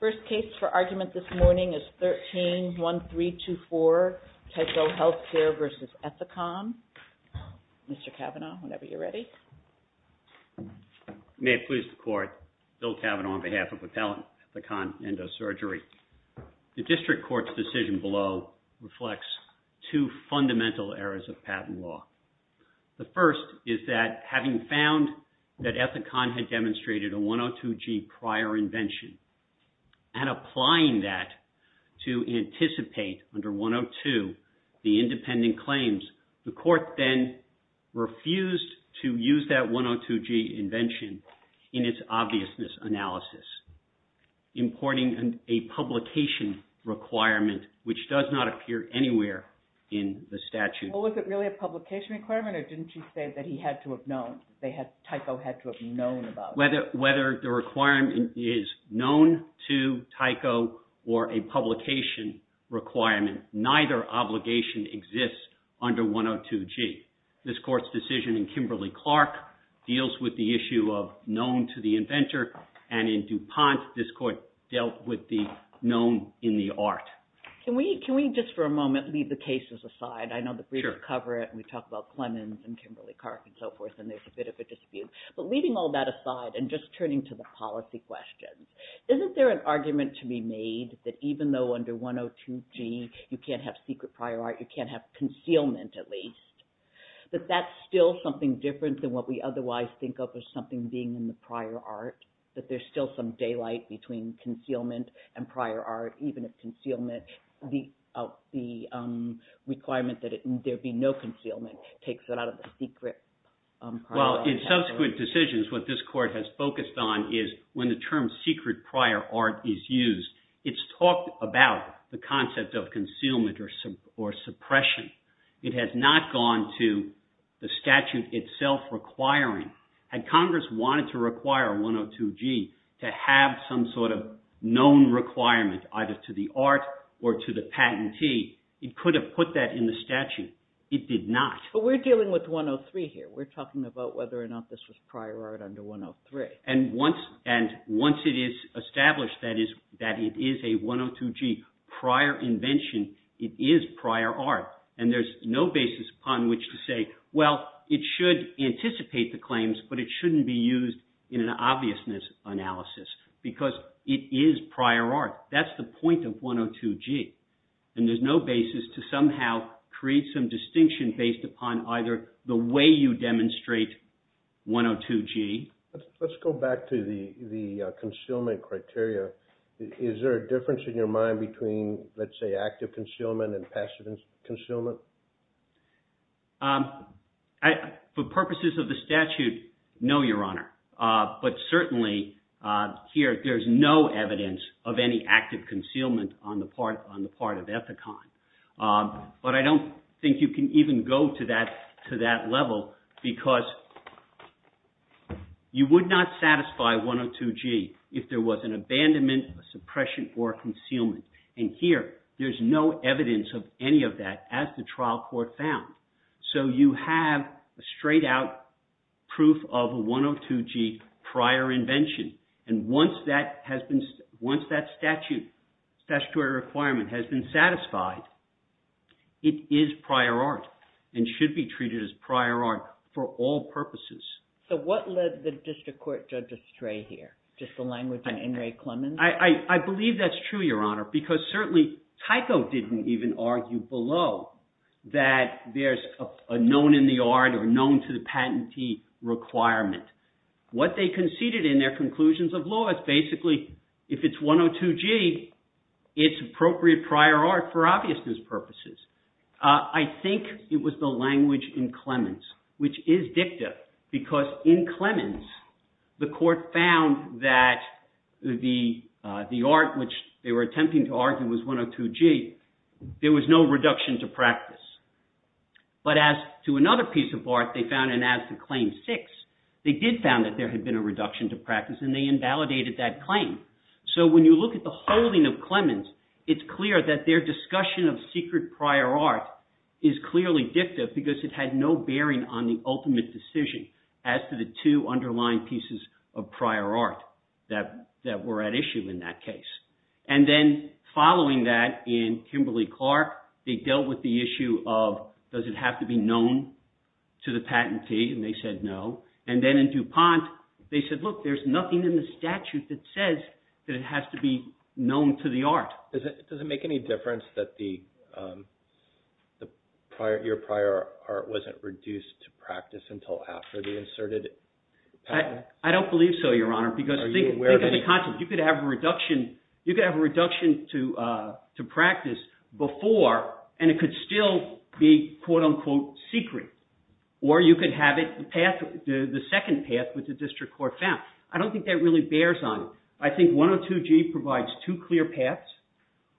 First case for argument this morning is 13-1324, Tyco Healthcare v. Ethicon. Mr. Cavanaugh, whenever you're ready. May it please the Court, Bill Cavanaugh on behalf of Appellant Ethicon Endo-Surgery. The District Court's decision below reflects two fundamental errors of patent law. The first is that having found that Ethicon had demonstrated a 102G prior invention and applying that to anticipate under 102 the independent claims, the Court then refused to use that 102G invention in its obviousness analysis, importing a publication requirement which does not appear anywhere in the statute. Well, was it really a publication requirement or didn't you say that he had to have known, that Tyco had to have known about it? Whether the requirement is known to Tyco or a publication requirement, neither obligation exists under 102G. This Court's decision in Kimberly-Clark deals with the issue of known to the inventor and in DuPont this Court dealt with the known in the art. Can we just for a moment leave the cases aside? I know the briefs cover it and we talk about Clemens and Kimberly-Clark and so forth and there's a bit of a dispute, but leaving all that aside and just turning to the policy questions. Isn't there an argument to be made that even though under 102G you can't have secret prior art, you can't have concealment at least, that that's still something different than what we otherwise think of as something being in the prior art? That there's still some daylight between concealment and prior art even if concealment, the requirement that there be no concealment takes it out of the secret prior art. to have some sort of known requirement either to the art or to the patentee, it could have put that in the statute. It did not. But we're dealing with 103 here. We're talking about whether or not this was prior art under 103. And once it is established that it is a 102G prior invention, it is prior art and there's no basis upon which to say, well, it should anticipate the claims, but it shouldn't be used in an obviousness analysis because it is prior art. That's the point of 102G and there's no basis to somehow create some distinction based upon either the way you demonstrate 102G. Let's go back to the concealment criteria. Is there a difference in your mind between, let's say, active concealment and passive concealment? For purposes of the statute, no, Your Honor, but certainly here there's no evidence of any active concealment on the part of Ethicon. But I don't think you can even go to that level because you would not satisfy 102G if there was an abandonment, a suppression, or a concealment. And here there's no evidence of any of that as the trial court found. So you have a straight out proof of a 102G prior invention. And once that statutory requirement has been satisfied, it is prior art and should be treated as prior art for all purposes. So what led the district court judge astray here? Just the language in In re Clemens? I believe that's true, Your Honor, because certainly Tyco didn't even argue below that there's a known in the art or known to the patentee requirement. What they conceded in their conclusions of law is basically if it's 102G, it's appropriate prior art for obviousness purposes. I think it was the language in Clemens, which is dicta, because in Clemens the court found that the art which they were attempting to argue was 102G. There was no reduction to practice. But as to another piece of art they found, and as to Claim 6, they did found that there had been a reduction to practice and they invalidated that claim. So when you look at the holding of Clemens, it's clear that their discussion of secret prior art is clearly dicta because it had no bearing on the ultimate decision as to the two underlying pieces of prior art that were at issue in that case. And then following that in Kimberly-Clark, they dealt with the issue of does it have to be known to the patentee, and they said no. And then in DuPont, they said, look, there's nothing in the statute that says that it has to be known to the art. Does it make any difference that your prior art wasn't reduced to practice until after the inserted patent? I don't believe so, Your Honor, because think of the concept. You could have a reduction to practice before, and it could still be, quote-unquote, secret. Or you could have the second path, which the district court found. I don't think that really bears on it. I think 102G provides two clear paths.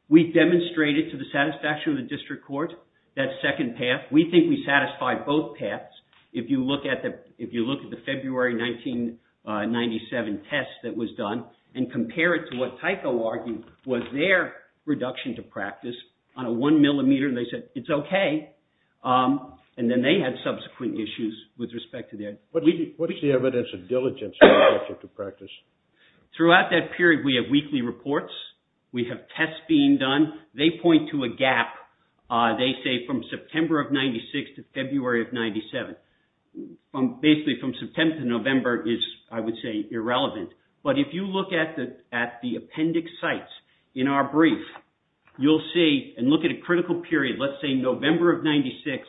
We demonstrated to the satisfaction of the district court that second path. We think we satisfied both paths if you look at the February 1997 test that was done and compare it to what Tyco argued was their reduction to practice on a one millimeter. They said it's OK. And then they had subsequent issues with respect to their— What is the evidence of diligence in the reduction to practice? Throughout that period, we have weekly reports. We have tests being done. They point to a gap, they say, from September of 96 to February of 97. Basically, from September to November is, I would say, irrelevant. But if you look at the appendix sites in our brief, you'll see and look at a critical period, let's say November of 96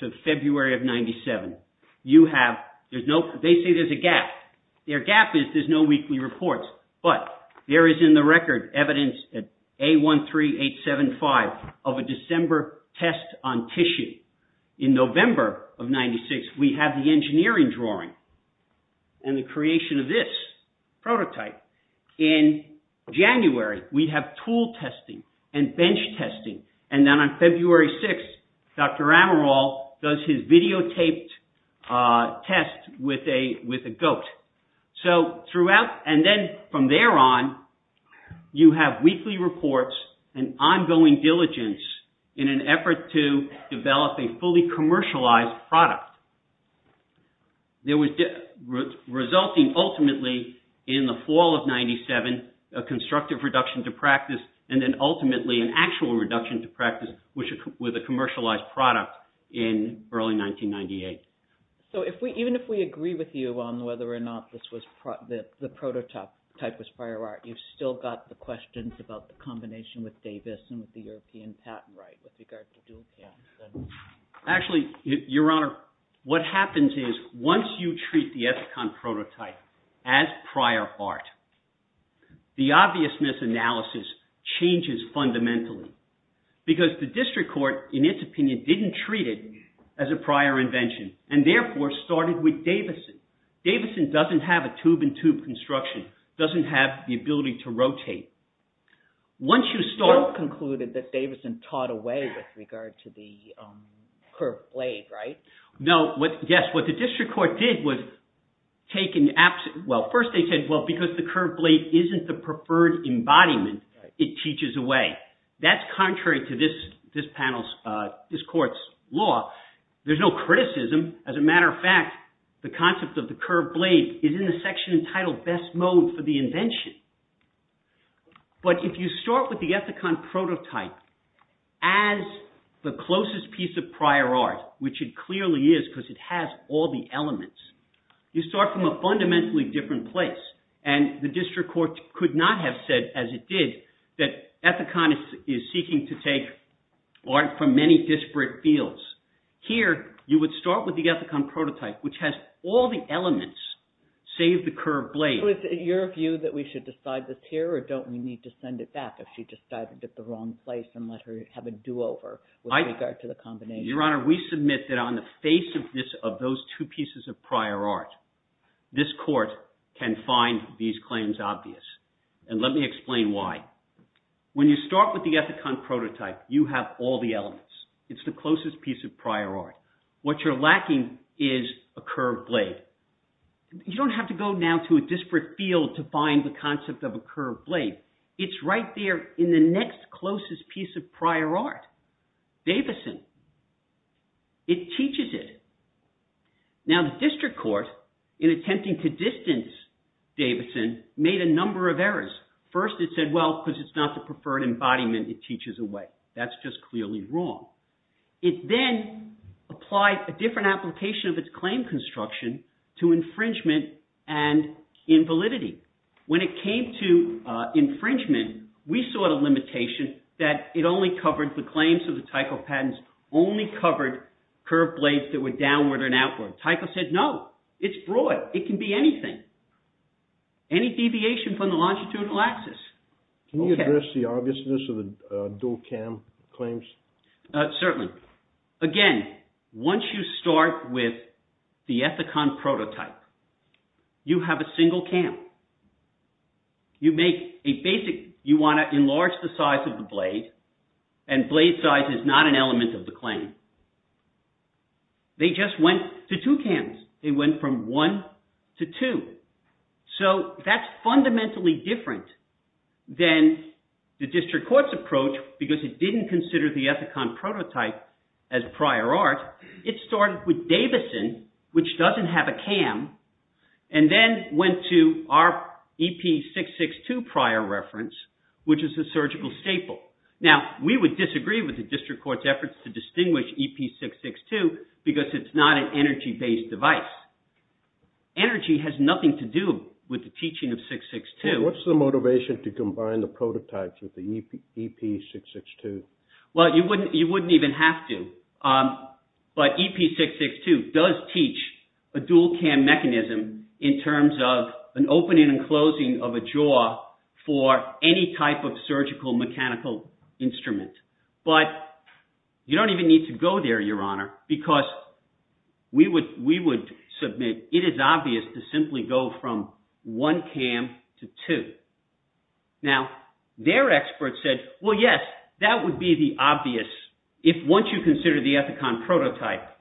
to February of 97. They say there's a gap. Their gap is there's no weekly reports. But there is in the record evidence at A13875 of a December test on tissue. In November of 96, we have the engineering drawing and the creation of this prototype. In January, we have tool testing and bench testing. And then on February 6, Dr. Amaral does his videotaped test with a goat. So throughout and then from there on, you have weekly reports and ongoing diligence in an effort to develop a fully commercialized product. There was resulting ultimately in the fall of 97, a constructive reduction to practice, and then ultimately an actual reduction to practice with a commercialized product in early 1998. So even if we agree with you on whether or not the prototype type was prior art, you've still got the questions about the combination with Davis and with the European patent right with regard to dual patent. Actually, Your Honor, what happens is once you treat the EPCON prototype as prior art, the obviousness analysis changes fundamentally because the district court, in its opinion, didn't treat it as a prior invention and therefore started with Davidson. Davidson doesn't have a tube-in-tube construction, doesn't have the ability to rotate. You still concluded that Davidson taught away with regard to the curved blade, right? No. Yes. What the district court did was take an – well, first they said, well, because the curved blade isn't the preferred embodiment, it teaches away. That's contrary to this panel's – this court's law. There's no criticism. As a matter of fact, the concept of the curved blade is in the section entitled Best Mode for the Invention. But if you start with the EPCON prototype as the closest piece of prior art, which it clearly is because it has all the elements, you start from a fundamentally different place. And the district court could not have said, as it did, that EPCON is seeking to take art from many disparate fields. Here, you would start with the EPCON prototype, which has all the elements, save the curved blade. So is it your view that we should decide this here, or don't we need to send it back if she decided it's the wrong place and let her have a do-over with regard to the combination? Your Honor, we submit that on the face of those two pieces of prior art, this court can find these claims obvious. And let me explain why. When you start with the EPCON prototype, you have all the elements. It's the closest piece of prior art. What you're lacking is a curved blade. You don't have to go now to a disparate field to find the concept of a curved blade. It's right there in the next closest piece of prior art, Davison. It teaches it. Now, the district court, in attempting to distance Davison, made a number of errors. First, it said, well, because it's not the preferred embodiment, it teaches away. That's just clearly wrong. It then applied a different application of its claim construction to infringement and invalidity. When it came to infringement, we saw the limitation that it only covered the claims of the Tycho patents, only covered curved blades that were downward and outward. Tycho said, no, it's broad. It can be anything. Any deviation from the longitudinal axis. Can you address the obviousness of the dual-cam claims? Certainly. Again, once you start with the EPCON prototype, you have a single cam. You make a basic – you want to enlarge the size of the blade, and blade size is not an element of the claim. They just went to two cams. They went from one to two. So that's fundamentally different than the district court's approach, because it didn't consider the EPCON prototype as prior art. It started with Davison, which doesn't have a cam, and then went to our EP662 prior reference, which is a surgical staple. Now, we would disagree with the district court's efforts to distinguish EP662 because it's not an energy-based device. Energy has nothing to do with the teaching of 662. What's the motivation to combine the prototypes with the EP662? Well, you wouldn't even have to. But EP662 does teach a dual-cam mechanism in terms of an opening and closing of a jaw for any type of surgical mechanical instrument. But you don't even need to go there, Your Honor, because we would submit it is obvious to simply go from one cam to two. Now, their experts said, well, yes, that would be the obvious – if once you consider the EPCON prototype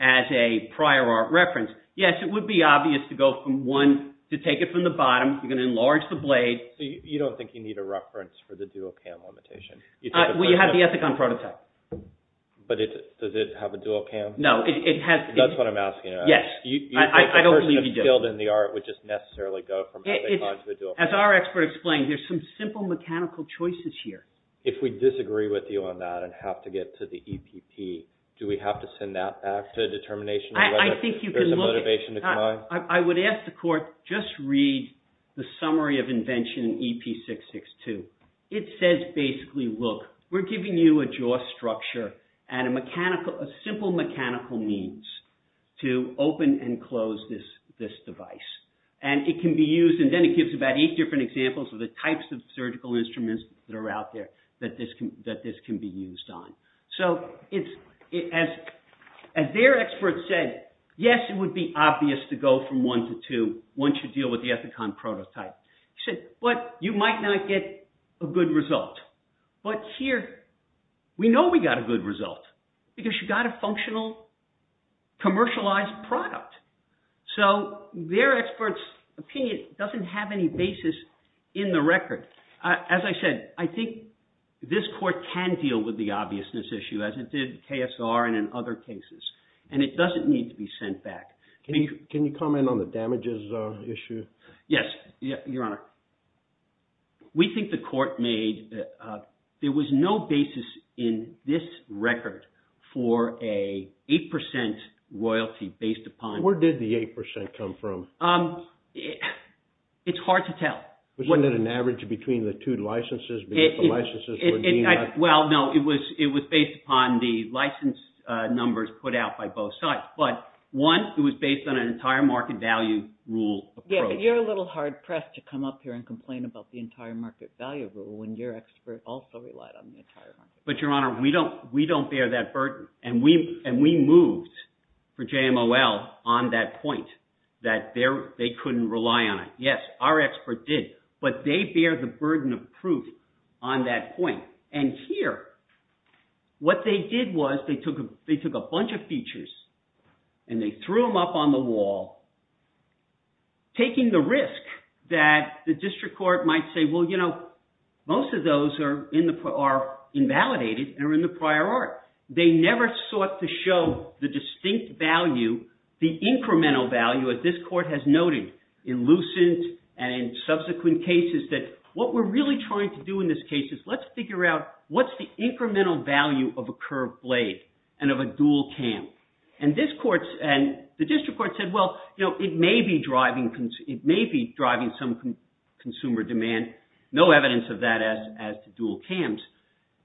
as a prior art reference, yes, it would be obvious to go from one – to take it from the bottom. You're going to enlarge the blade. So you don't think you need a reference for the dual-cam limitation? Well, you have the EPCON prototype. But does it have a dual-cam? No, it has – That's what I'm asking, Your Honor. Yes, I don't believe you do. A person that's skilled in the art would just necessarily go from EPCON to a dual-cam. As our expert explained, there's some simple mechanical choices here. If we disagree with you on that and have to get to the EPP, do we have to send that back to a determination of whether there's a motivation to combine? I would ask the Court just read the summary of invention in EP662. It says basically, look, we're giving you a jaw structure and a simple mechanical means to open and close this device. And it can be used – and then it gives about eight different examples of the types of surgical instruments that are out there that this can be used on. So as their expert said, yes, it would be obvious to go from one to two once you deal with the EPCON prototype. He said, well, you might not get a good result. But here, we know we got a good result because you got a functional, commercialized product. So their expert's opinion doesn't have any basis in the record. As I said, I think this Court can deal with the obviousness issue as it did KSR and in other cases, and it doesn't need to be sent back. Can you comment on the damages issue? Yes, Your Honor. We think the Court made – there was no basis in this record for an 8 percent royalty based upon – Where did the 8 percent come from? It's hard to tell. Wasn't it an average between the two licenses? Well, no. It was based upon the license numbers put out by both sides. But one, it was based on an entire market value rule approach. Yeah, but you're a little hard-pressed to come up here and complain about the entire market value rule when your expert also relied on the entire market. But, Your Honor, we don't bear that burden. And we moved for JMOL on that point that they couldn't rely on it. Yes, our expert did, but they bear the burden of proof on that point. And here, what they did was they took a bunch of features and they threw them up on the wall, taking the risk that the district court might say, well, you know, most of those are invalidated and are in the prior art. They never sought to show the distinct value, the incremental value, as this court has noted in Lucent and in subsequent cases, that what we're really trying to do in this case is let's figure out what's the incremental value of a curved blade and of a dual cam. And the district court said, well, you know, it may be driving some consumer demand. No evidence of that as to dual cams.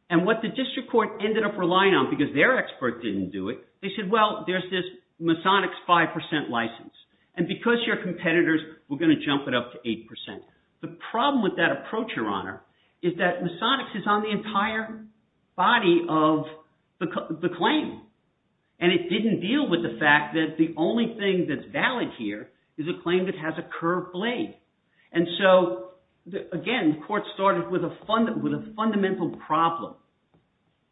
And what the district court ended up relying on, because their expert didn't do it, they said, well, there's this Masonics 5% license. And because you're competitors, we're going to jump it up to 8%. The problem with that approach, Your Honor, is that Masonics is on the entire body of the claim. And it didn't deal with the fact that the only thing that's valid here is a claim that has a curved blade. And so, again, the court started with a fundamental problem,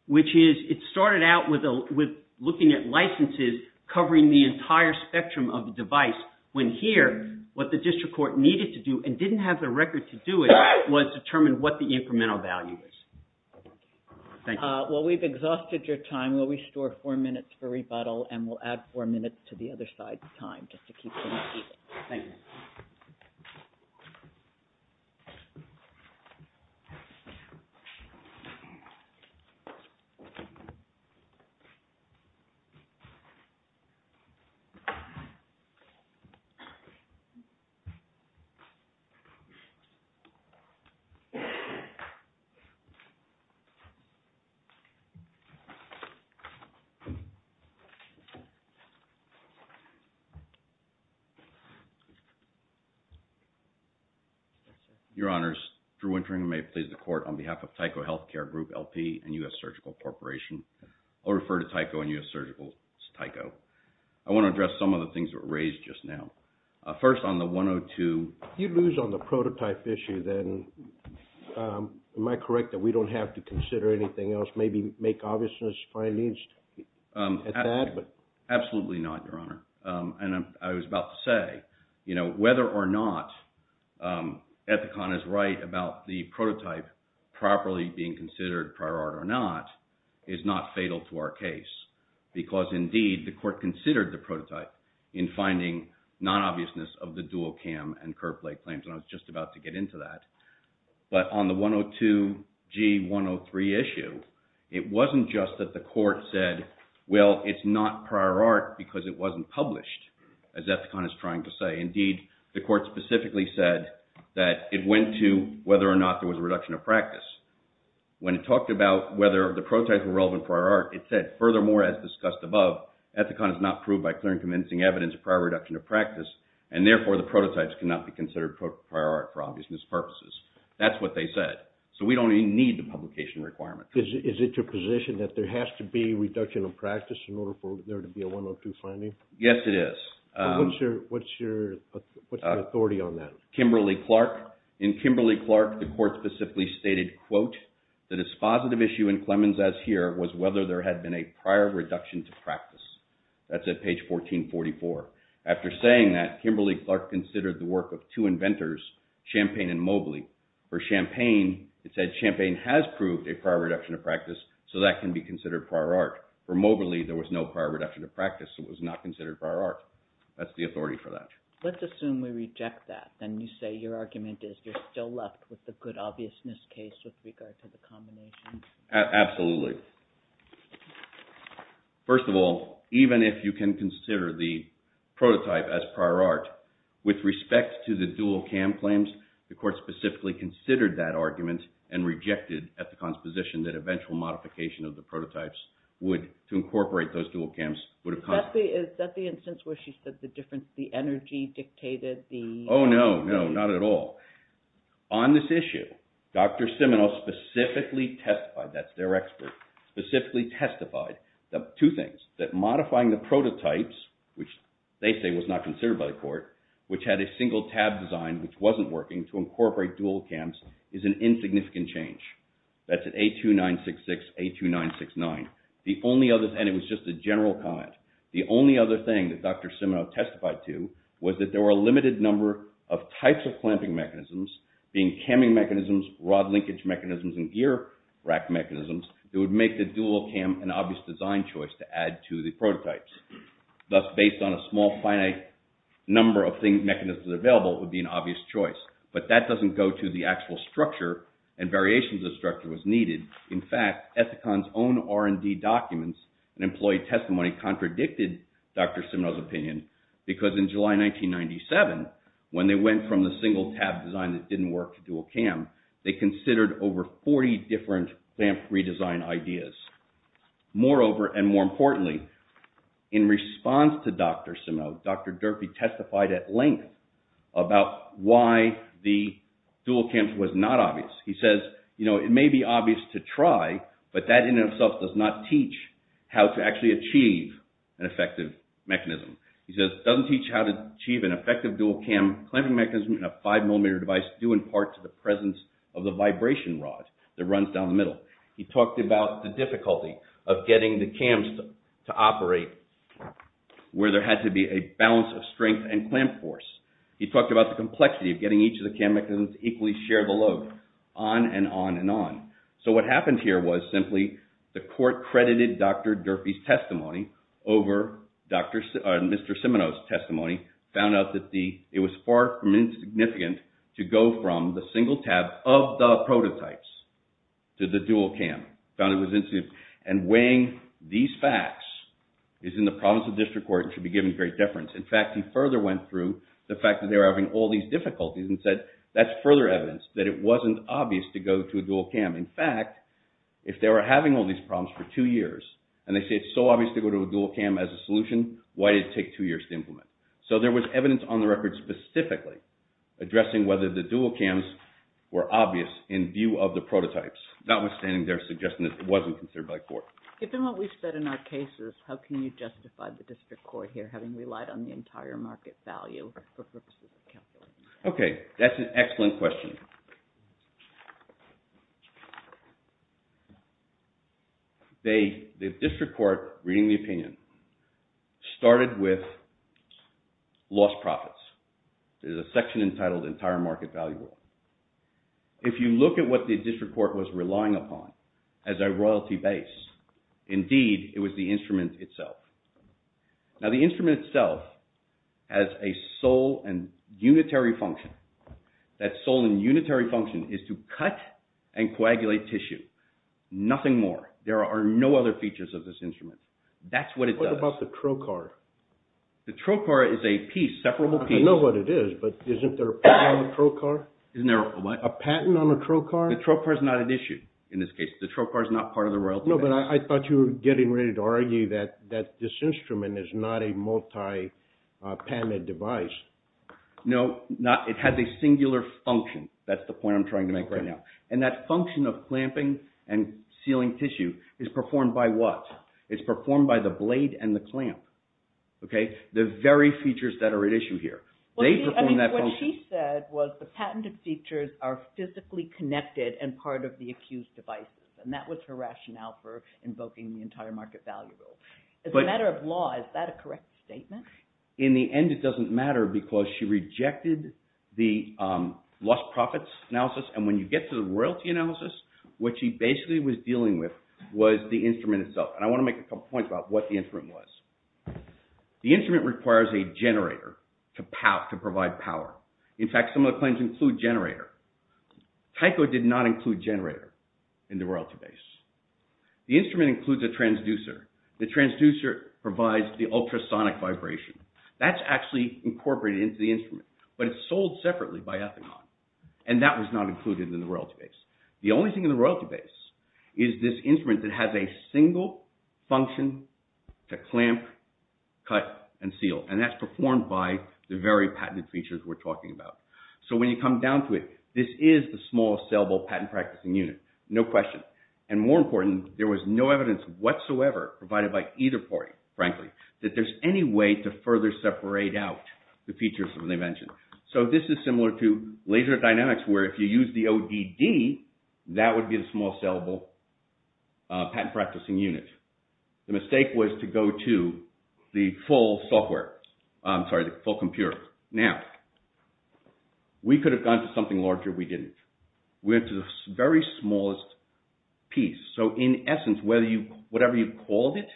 which is it started out with looking at licenses covering the entire spectrum of the device, when here what the district court needed to do and didn't have the record to do it was determine what the incremental value is. Thank you. Well, we've exhausted your time. We'll restore four minutes for rebuttal, and we'll add four minutes to the other side's time just to keep things even. Thank you. Your Honors, Drew Wintering, who may have pleased the court, on behalf of Tyco Healthcare Group, LP, and U.S. Surgical Corporation. I'll refer to Tyco and U.S. Surgical as Tyco. I want to address some of the things that were raised just now. First, on the 102. You lose on the prototype issue, then. Am I correct that we don't have to consider anything else, maybe make obviousness of our needs at that? Absolutely not, Your Honor. And I was about to say, you know, whether or not Ethicon is right about the prototype properly being considered prior art or not is not fatal to our case. Because, indeed, the court considered the prototype in finding non-obviousness of the dual cam and curved plate claims, and I was just about to get into that. But on the 102G103 issue, it wasn't just that the court said, well, it's not prior art because it wasn't published, as Ethicon is trying to say. Indeed, the court specifically said that it went to whether or not there was a reduction of practice. When it talked about whether the prototypes were relevant prior art, it said, furthermore, as discussed above, Ethicon is not proved by clear and convincing evidence of prior reduction of practice, and, therefore, the prototypes cannot be considered prior art for obviousness purposes. That's what they said. So we don't even need the publication requirement. Is it your position that there has to be reduction of practice in order for there to be a 102 finding? Yes, it is. What's your authority on that? In Kimberly-Clark, the court specifically stated, quote, that its positive issue in Clemens, as here, was whether there had been a prior reduction to practice. That's at page 1444. After saying that, Kimberly-Clark considered the work of two inventors, Champagne and Mobley. For Champagne, it said Champagne has proved a prior reduction of practice, so that can be considered prior art. For Mobley, there was no prior reduction of practice, so it was not considered prior art. That's the authority for that. Let's assume we reject that. Then you say your argument is you're still left with the good obviousness case with regard to the combination. Absolutely. First of all, even if you can consider the prototype as prior art, with respect to the dual CAM claims, the court specifically considered that argument and rejected Ethicon's position that eventual modification of the prototypes would, to incorporate those dual CAMs, would have caused… Is that the instance where she said the difference, the energy dictated the… Oh, no, no, not at all. On this issue, Dr. Simino specifically testified, that's their expert, specifically testified two things. That modifying the prototypes, which they say was not considered by the court, which had a single tab design which wasn't working to incorporate dual CAMs, is an insignificant change. That's at A2966, A2969. The only other, and it was just a general comment, the only other thing that Dr. Simino testified to was that there were a limited number of types of clamping mechanisms, being camming mechanisms, rod linkage mechanisms, and gear rack mechanisms, that would make the dual CAM an obvious design choice to add to the prototypes. Thus, based on a small, finite number of mechanisms available, it would be an obvious choice. But that doesn't go to the actual structure and variations of structure was needed. In fact, Ethicon's own R&D documents and employee testimony contradicted Dr. Simino's opinion. Because in July 1997, when they went from the single tab design that didn't work to dual CAM, they considered over 40 different clamp redesign ideas. Moreover, and more importantly, in response to Dr. Simino, Dr. Durfee testified at length about why the dual CAM was not obvious. He says, you know, it may be obvious to try, but that in and of itself does not teach how to actually achieve an effective mechanism. He says, it doesn't teach how to achieve an effective dual CAM clamping mechanism in a five millimeter device due in part to the presence of the vibration rod that runs down the middle. He talked about the difficulty of getting the CAMs to operate where there had to be a balance of strength and clamp force. He talked about the complexity of getting each of the CAM mechanisms to equally share the load on and on and on. So what happened here was simply the court credited Dr. Durfee's testimony over Mr. Simino's testimony, found out that it was far from insignificant to go from the single tab of the prototypes to the dual CAM. And weighing these facts is in the province of district court and should be given great deference. In fact, he further went through the fact that they were having all these difficulties and said that's further evidence that it wasn't obvious to go to a dual CAM. In fact, if they were having all these problems for two years and they say it's so obvious to go to a dual CAM as a solution, why did it take two years to implement? So there was evidence on the record specifically addressing whether the dual CAMs were obvious in view of the prototypes, notwithstanding their suggestion that it wasn't considered by court. Given what we've said in our cases, how can you justify the district court here having relied on the entire market value? Okay, that's an excellent question. The district court, reading the opinion, started with lost profits. There's a section entitled entire market value. If you look at what the district court was relying upon as a royalty base, indeed it was the instrument itself. Now the instrument itself has a sole and unitary function. That sole and unitary function is to cut and coagulate tissue. Nothing more. There are no other features of this instrument. That's what it does. What about the trocar? The trocar is a piece, separable piece. I know what it is, but isn't there a patent on the trocar? Isn't there a what? A patent on the trocar? The trocar is not at issue in this case. The trocar is not part of the royalty base. No, but I thought you were getting ready to argue that this instrument is not a multi-panet device. No, it has a singular function. That's the point I'm trying to make right now. And that function of clamping and sealing tissue is performed by what? It's performed by the blade and the clamp. The very features that are at issue here. They perform that function. What she said was the patented features are physically connected and part of the accused devices. And that was her rationale for invoking the entire market value rule. As a matter of law, is that a correct statement? In the end, it doesn't matter because she rejected the lost profits analysis. And when you get to the royalty analysis, what she basically was dealing with was the instrument itself. And I want to make a couple points about what the instrument was. The instrument requires a generator to provide power. In fact, some of the claims include generator. Tyco did not include generator in the royalty base. The instrument includes a transducer. The transducer provides the ultrasonic vibration. That's actually incorporated into the instrument. But it's sold separately by Ethicon. And that was not included in the royalty base. The only thing in the royalty base is this instrument that has a single function to clamp, cut, and seal. And that's performed by the very patented features we're talking about. So when you come down to it, this is the small saleable patent practicing unit. No question. And more important, there was no evidence whatsoever provided by either party, frankly, that there's any way to further separate out the features that they mentioned. So this is similar to laser dynamics where if you use the ODD, that would be the small saleable patent practicing unit. The mistake was to go to the full software. I'm sorry, the full computer. Now, we could have gone to something larger. We didn't. We went to the very smallest piece. So in essence, whatever you called it,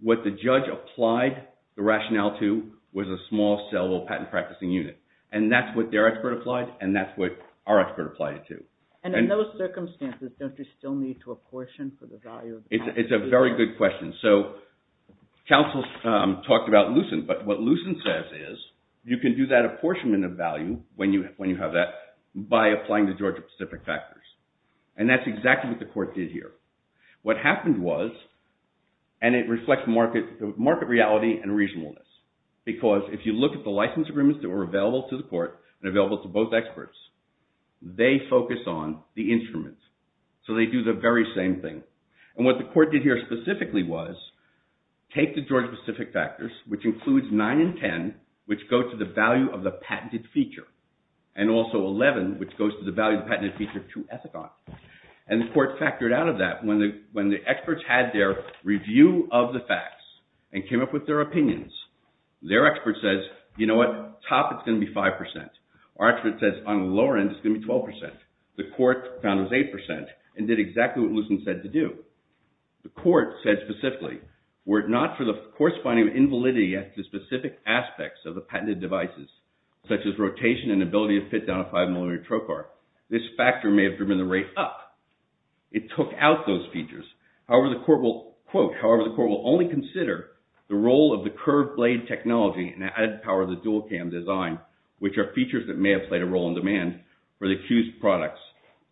what the judge applied the rationale to was a small saleable patent practicing unit. And that's what their expert applied. And that's what our expert applied it to. And in those circumstances, don't you still need to apportion for the value of the patent? It's a very good question. So counsel talked about Lucent. But what Lucent says is you can do that apportionment of value when you have that by applying the Georgia Pacific factors. And that's exactly what the court did here. What happened was, and it reflects market reality and reasonableness, because if you look at the license agreements that were available to the court and available to both experts, they focus on the instrument. So they do the very same thing. And what the court did here specifically was take the Georgia Pacific factors, which includes 9 and 10, which go to the value of the patented feature, and also 11, which goes to the value of the patented feature to Ethicon. And the court factored out of that. When the experts had their review of the facts and came up with their opinions, their expert says, you know what? Top, it's going to be 5%. Our expert says, on the lower end, it's going to be 12%. The court found it was 8% and did exactly what Lucent said to do. The court said specifically, were it not for the corresponding invalidity at the specific aspects of the patented devices, such as rotation and ability to fit down a 5-millimeter trocar, this factor may have driven the rate up. It took out those features. However, the court will only consider the role of the curved blade technology and added power of the dual-cam design, which are features that may have played a role in demand for the accused products,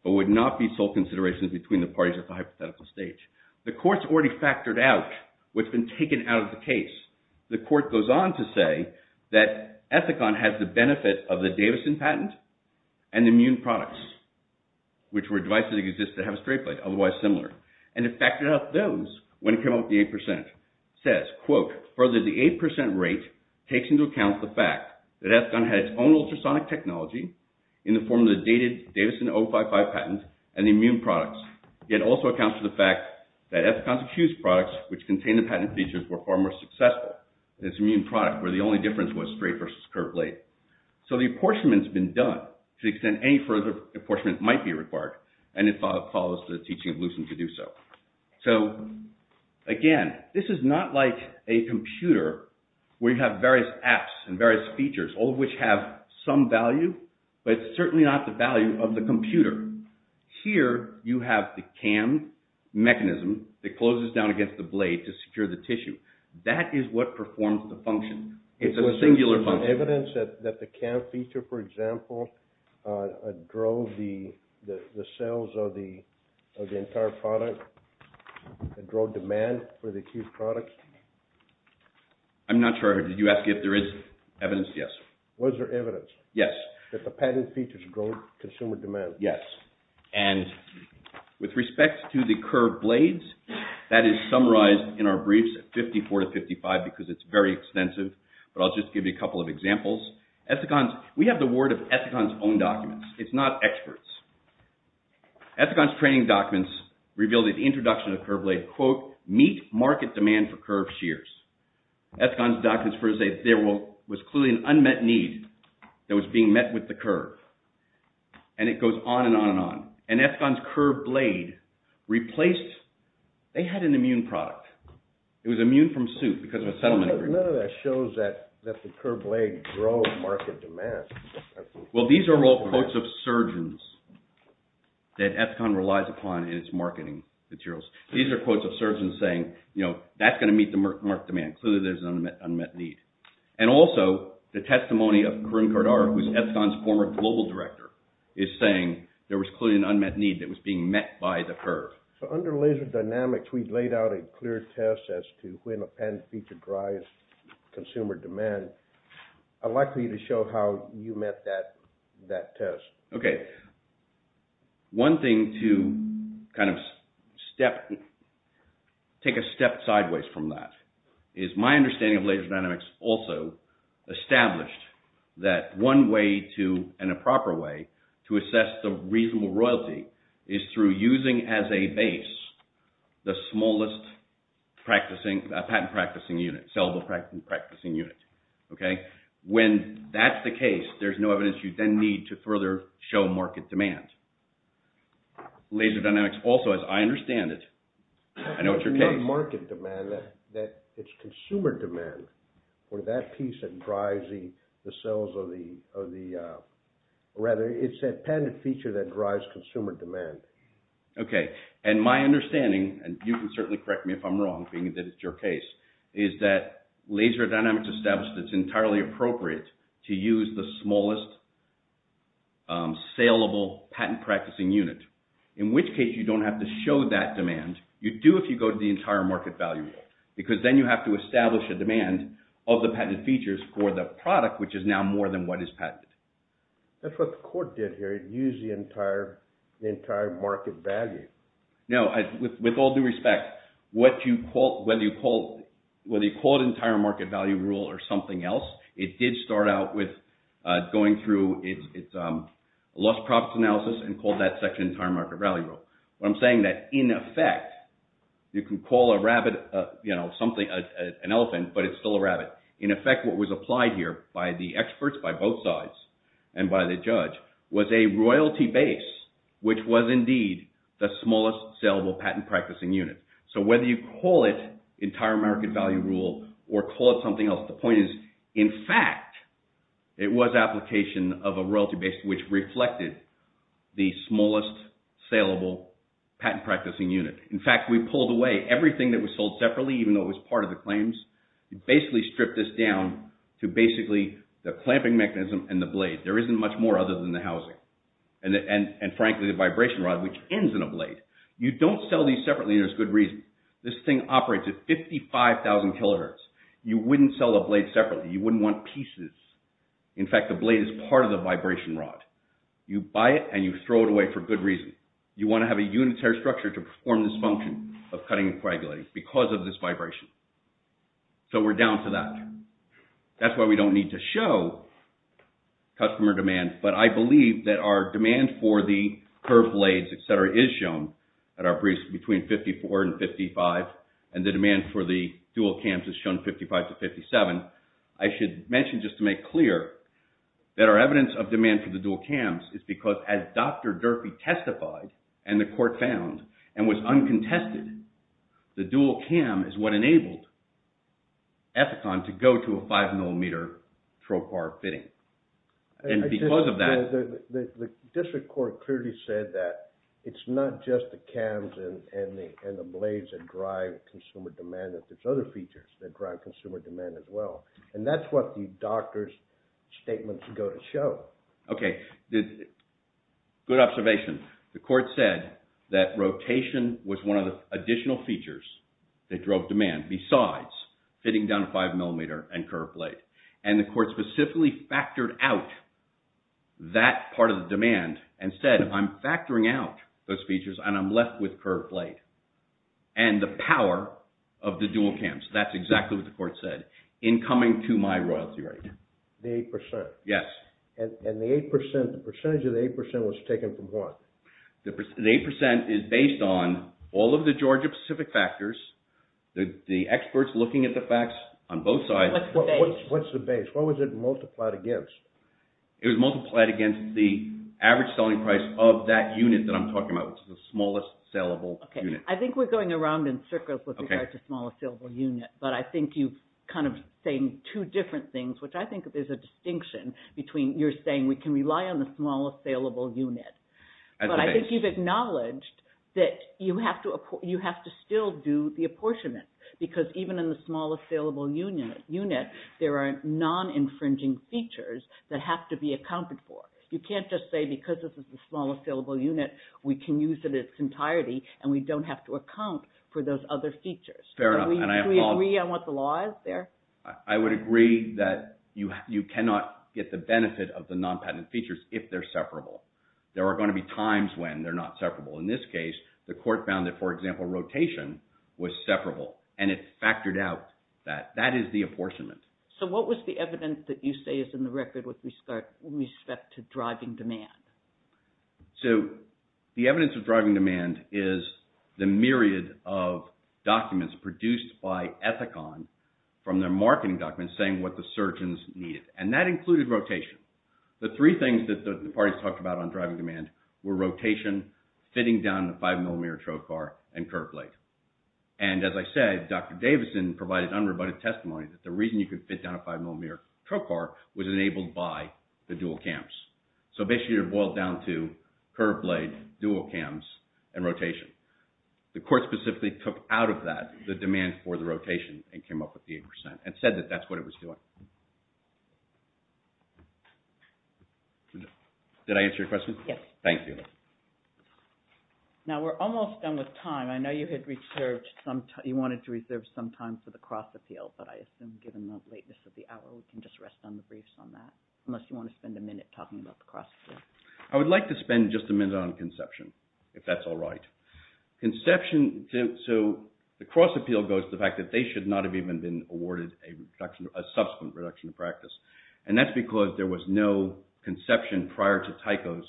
but would not be sole considerations between the parties at the hypothetical stage. The court's already factored out what's been taken out of the case. The court goes on to say that Ethicon has the benefit of the Davison patent and the immune products, which were devices that existed that have a straight blade, otherwise similar, and it factored out those when it came up with the 8%. It says, quote, further, the 8% rate takes into account the fact that Ethicon had its own ultrasonic technology in the form of the dated Davison 055 patent and the immune products, yet also accounts for the fact that Ethicon's accused products, which contained the patent features, were far more successful than its immune product, where the only difference was straight versus curved blade. So the apportionment's been done to the extent any further apportionment might be required, and it follows the teaching of Lucent to do so. So, again, this is not like a computer where you have various apps and various features, all of which have some value, but it's certainly not the value of the computer. Here you have the cam mechanism that closes down against the blade to secure the tissue. That is what performs the function. It's a singular function. Was there any evidence that the cam feature, for example, drove the sales of the entire product, drove demand for the accused products? I'm not sure. Did you ask if there is evidence? Yes. Was there evidence? Yes. That the patent features drove consumer demand? Yes. And with respect to the curved blades, that is summarized in our briefs at 54 to 55 because it's very extensive, but I'll just give you a couple of examples. We have the word of Ethicon's own documents. It's not experts. Ethicon's training documents reveal that the introduction of curved blades, quote, meet market demand for curved shears. Ethicon's documents first say there was clearly an unmet need that was being met with the curve, and it goes on and on and on. And Ethicon's curved blade replaced, they had an immune product. It was immune from soot because of a settlement agreement. None of that shows that the curved blade drove market demand. Well, these are all quotes of surgeons that Ethicon relies upon in its marketing materials. These are quotes of surgeons saying, you know, that's going to meet the market demand. Clearly there's an unmet need. And also the testimony of Karim Kardar, who is Ethicon's former global director, is saying there was clearly an unmet need that was being met by the curve. So under laser dynamics, we laid out a clear test as to when a pen feature drives consumer demand. I'd like for you to show how you met that test. Okay. One thing to kind of step, take a step sideways from that, is my understanding of laser dynamics also established that one way to, and a proper way to assess the reasonable royalty, is through using as a base the smallest patent-practicing unit, sellable-practicing unit. Okay? When that's the case, there's no evidence you then need to further show market demand. Laser dynamics also, as I understand it, I know it's your case. It's not market demand. It's consumer demand. Or that piece that drives the sales of the, rather, it's that patent feature that drives consumer demand. Okay. And my understanding, and you can certainly correct me if I'm wrong, being that it's your case, is that laser dynamics establish that it's entirely appropriate to use the smallest sellable patent-practicing unit. In which case, you don't have to show that demand. You do if you go to the entire market value rule. Because then you have to establish a demand of the patented features for the product, which is now more than what is patented. That's what the court did here. It used the entire market value. No. With all due respect, whether you call it entire market value rule or something else, it did start out with going through its lost profits analysis and called that section entire market value rule. What I'm saying is that, in effect, you can call a rabbit an elephant, but it's still a rabbit. In effect, what was applied here by the experts, by both sides, and by the judge, was a royalty base, which was indeed the smallest sellable patent-practicing unit. So, whether you call it entire market value rule or call it something else, the point is, in fact, it was application of a royalty base, which reflected the smallest sellable patent-practicing unit. In fact, we pulled away everything that was sold separately, even though it was part of the claims. We basically stripped this down to basically the clamping mechanism and the blade. There isn't much more other than the housing. And frankly, the vibration rod, which ends in a blade. You don't sell these separately, and there's good reason. This thing operates at 55,000 kilohertz. You wouldn't sell a blade separately. You wouldn't want pieces. In fact, the blade is part of the vibration rod. You buy it, and you throw it away for good reason. You want to have a unitary structure to perform this function of cutting and coagulating because of this vibration. So, we're down to that. That's why we don't need to show customer demand, but I believe that our demand for the curved blades, etc., is shown at our briefs between 54 and 55, and the demand for the dual cams is shown 55 to 57. I should mention, just to make clear, that our evidence of demand for the dual cams is because, as Dr. Durfee testified, and the court found, and was uncontested, the dual cam is what enabled Epicon to go to a 5-millimeter trocar fitting. And because of that... The district court clearly said that it's not just the cams and the blades that drive consumer demand. There's other features that drive consumer demand as well, and that's what the doctor's statements go to show. Okay. Good observation. The court said that rotation was one of the additional features that drove demand, besides fitting down a 5-millimeter and curved blade, and the court specifically factored out that part of the demand and said, I'm factoring out those features, and I'm left with curved blade, and the power of the dual cams. That's exactly what the court said, in coming to my royalty rate. The 8%? Yes. And the 8%, the percentage of the 8% was taken from what? The 8% is based on all of the Georgia-specific factors, the experts looking at the facts on both sides... What's the base? What's the base? What was it multiplied against? It was multiplied against the average selling price of that unit that I'm talking about, which is the smallest saleable unit. Okay. I think we're going around in circles with regards to smallest saleable unit, but I think you're kind of saying two different things, which I think there's a distinction between you're saying we can rely on the smallest saleable unit. But I think you've acknowledged that you have to still do the apportionment, because even in the smallest saleable unit, there are non-infringing features that have to be accounted for. You can't just say because this is the smallest saleable unit, we can use it in its entirety, and we don't have to account for those other features. Fair enough. Do we agree on what the law is there? I would agree that you cannot get the benefit of the non-patent features if they're separable. There are going to be times when they're not separable. In this case, the court found that, for example, rotation was separable, and it factored out that that is the apportionment. So what was the evidence that you say is in the record with respect to driving demand? So the evidence of driving demand is the myriad of documents produced by Ethicon from their marketing documents saying what the surgeons needed, and that included rotation. The three things that the parties talked about on driving demand were rotation, fitting down a 5 mm tow car, and curb blade. And as I said, Dr. Davison provided unrebutted testimony that the reason you could fit down a 5 mm tow car was enabled by the dual cams. So basically it boiled down to curb blade, dual cams, and rotation. The court specifically took out of that the demand for the rotation and came up with the 8%, and said that that's what it was doing. Did I answer your question? Yes. Thank you. Now we're almost done with time. I know you had reserved some time. You wanted to reserve some time for the cross appeal, but I assume given the lateness of the hour, we can just rest on the briefs on that, unless you want to spend a minute talking about the cross appeal. I would like to spend just a minute on conception, if that's all right. Conception, so the cross appeal goes to the fact that they should not have even been awarded a subsequent reduction of practice. And that's because there was no conception prior to Tycho's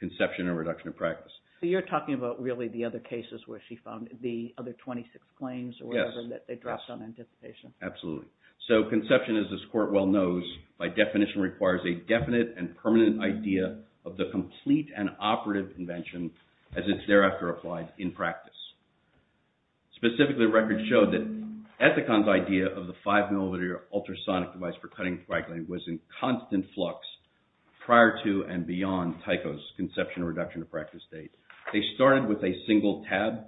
conception or reduction of practice. You're talking about really the other cases where she found the other 26 claims or whatever that they dropped on anticipation. Absolutely. So conception, as this court well knows, by definition requires a definite and permanent idea of the complete and operative invention as it's thereafter applied in practice. Specifically, records show that Ethicon's idea of the five millimeter ultrasonic device for cutting and spraggling was in constant flux prior to and beyond Tycho's conception or reduction of practice date. They started with a single tab.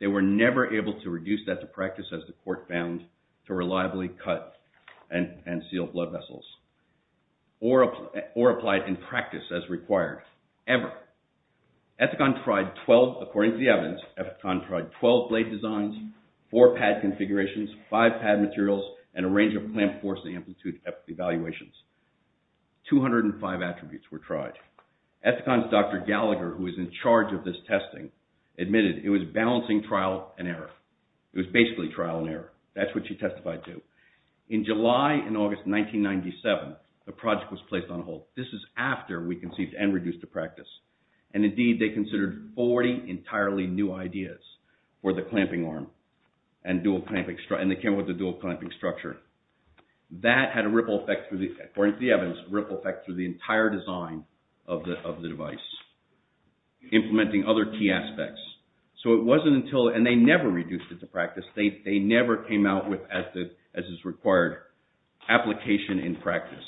They were never able to reduce that to practice, as the court found, to reliably cut and seal blood vessels or apply it in practice as required, ever. Ethicon tried 12, according to the evidence, Ethicon tried 12 blade designs, four pad configurations, five pad materials, and a range of clamp force and amplitude evaluations. 205 attributes were tried. Ethicon's Dr. Gallagher, who was in charge of this testing, admitted it was balancing trial and error. It was basically trial and error. That's what she testified to. In July and August 1997, the project was placed on hold. This is after we conceived and reduced to practice. And indeed, they considered 40 entirely new ideas for the clamping arm and they came up with the dual clamping structure. That had a ripple effect, according to the evidence, a ripple effect through the entire design of the device, implementing other key aspects. So it wasn't until, and they never reduced it to practice. They never came out with, as is required, application in practice.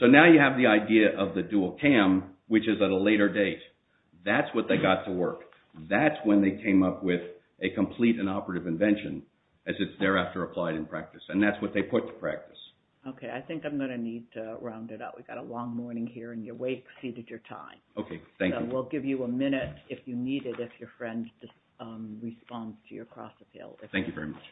So now you have the idea of the dual cam, which is at a later date. That's what they got to work. That's when they came up with a complete and operative invention, as it's thereafter applied in practice. And that's what they put to practice. Okay, I think I'm going to need to round it out. We've got a long morning here and you've way exceeded your time. Okay, thank you. We'll give you a minute if you need it, if your friend responds to your cross-appeal. Thank you very much.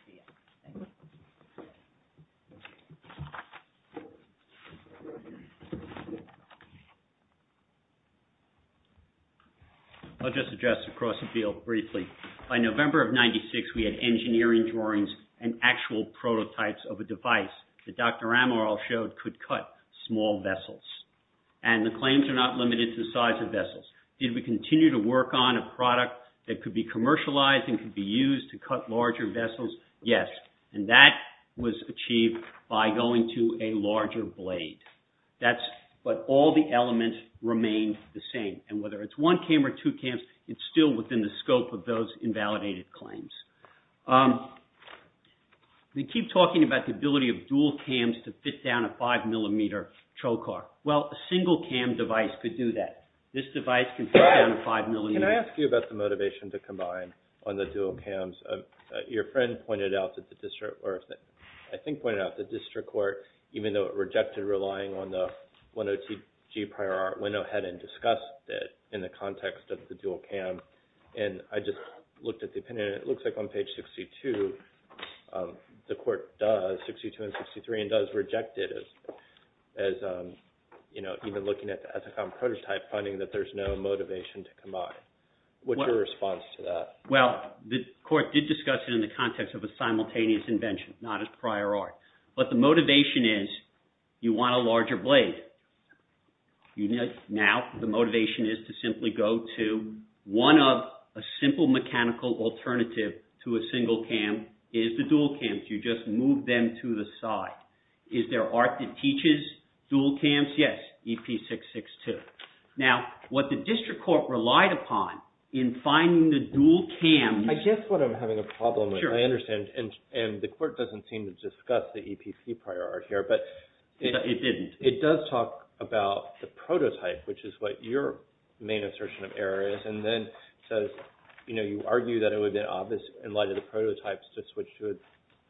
I'll just address the cross-appeal briefly. By November of 1996, we had engineering drawings and actual prototypes of a device that Dr. Amaral showed could cut small vessels. And the claims are not limited to the size of vessels. Did we continue to work on a product that could be commercialized and could be used to cut larger vessels? Yes. And that was achieved by going to a larger blade. But all the elements remained the same. And whether it's one cam or two cams, it's still within the scope of those invalidated claims. They keep talking about the ability of dual cams to fit down a 5mm choke arm. Well, a single cam device could do that. This device can fit down a 5mm. Can I ask you about the motivation to combine on the dual cams? Your friend pointed out that the district, or I think pointed out the district court, even though it rejected relying on the 102G prior art, went ahead and discussed it in the context of the dual cam. And I just looked at the opinion. It looks like on page 62, the court does, 62 and 63, and does reject it as even looking at the Ethicon prototype, finding that there's no motivation to combine. What's your response to that? Well, the court did discuss it in the context of a simultaneous invention, not as prior art. But the motivation is you want a larger blade. Now, the motivation is to simply go to one of a simple mechanical alternative to a single cam is the dual cams. You just move them to the side. Is there art that teaches dual cams? Yes, EP662. Now, what the district court relied upon in finding the dual cams... I guess what I'm having a problem with, I understand, and the court doesn't seem to discuss the EPC prior art here, but... It didn't. It does talk about the prototype, which is what your main assertion of error is, and then says, you know, you argue that it would be obvious in light of the prototypes to switch to a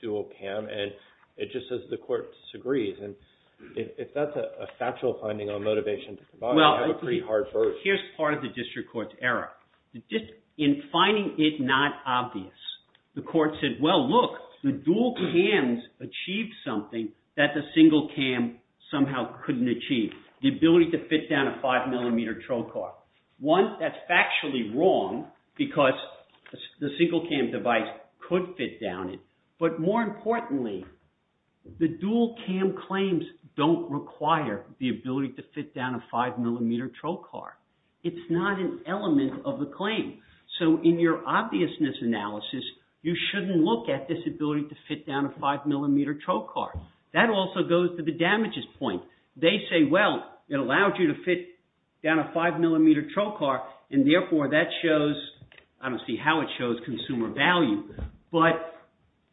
dual cam, and it just says the court disagrees. And if that's a factual finding on motivation to combine, I have a pretty hard vote. Well, here's part of the district court's error. In finding it not obvious, the court said, Well, look, the dual cams achieved something that the single cam somehow couldn't achieve, the ability to fit down a 5mm trocar. One, that's factually wrong, because the single cam device could fit down it. But more importantly, the dual cam claims don't require the ability to fit down a 5mm trocar. It's not an element of the claim. So in your obviousness analysis, you shouldn't look at this ability to fit down a 5mm trocar. That also goes to the damages point. They say, well, it allowed you to fit down a 5mm trocar, and therefore that shows, I don't see how it shows consumer value, but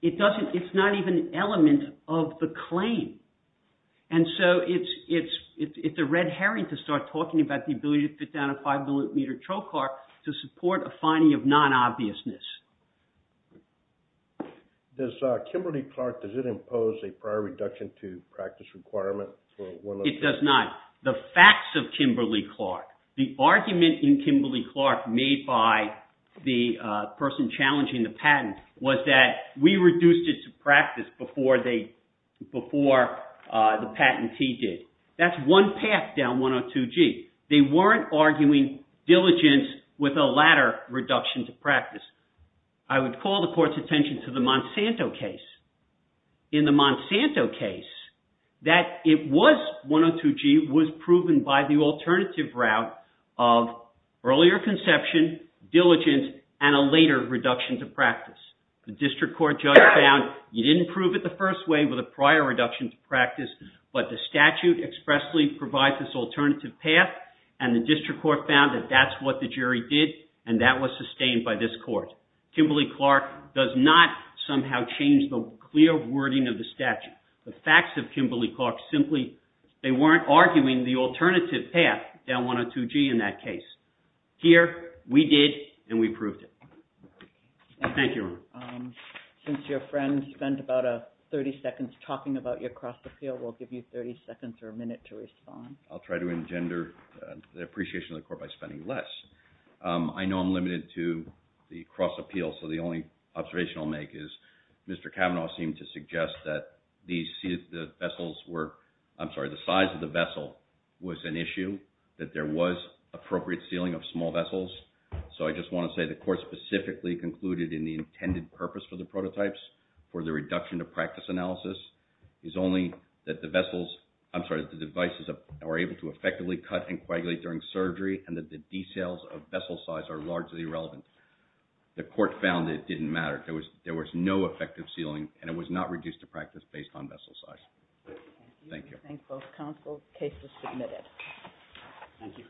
it's not even an element of the claim. And so it's a red herring to start talking about the ability to fit down a 5mm trocar to support a finding of non-obviousness. Does Kimberly-Clark, does it impose a prior reduction to practice requirement for 102G? It does not. The facts of Kimberly-Clark, the argument in Kimberly-Clark made by the person challenging the patent was that we reduced it to practice before the patentee did. That's one path down 102G. They weren't arguing diligence with a latter reduction to practice. I would call the court's attention to the Monsanto case. In the Monsanto case, that it was 102G was proven by the alternative route of earlier conception, diligence, and a later reduction to practice. The district court judge found you didn't prove it the first way with a prior reduction to practice, but the statute expressly provides this alternative path, and the district court found that that's what the jury did, and that was sustained by this court. Kimberly-Clark does not somehow change the clear wording of the statute. The facts of Kimberly-Clark simply, they weren't arguing the alternative path down 102G in that case. Here, we did, and we proved it. Thank you. Since your friend spent about 30 seconds talking about your cross-appeal, we'll give you 30 seconds or a minute to respond. I'll try to engender the appreciation of the court by spending less. I know I'm limited to the cross-appeal, so the only observation I'll make is Mr. Kavanaugh seemed to suggest that the size of the vessel was an issue, that there was appropriate sealing of small vessels, so I just want to say the court specifically concluded in the intended purpose for the prototypes for the reduction of practice analysis is only that the vessels, I'm sorry, the devices were able to effectively cut and coagulate during surgery, and that the details of vessel size are largely irrelevant. The court found it didn't matter. There was no effective sealing, and it was not reduced to practice based on vessel size. Thank you. I thank both counsel. The case is submitted. Thank you.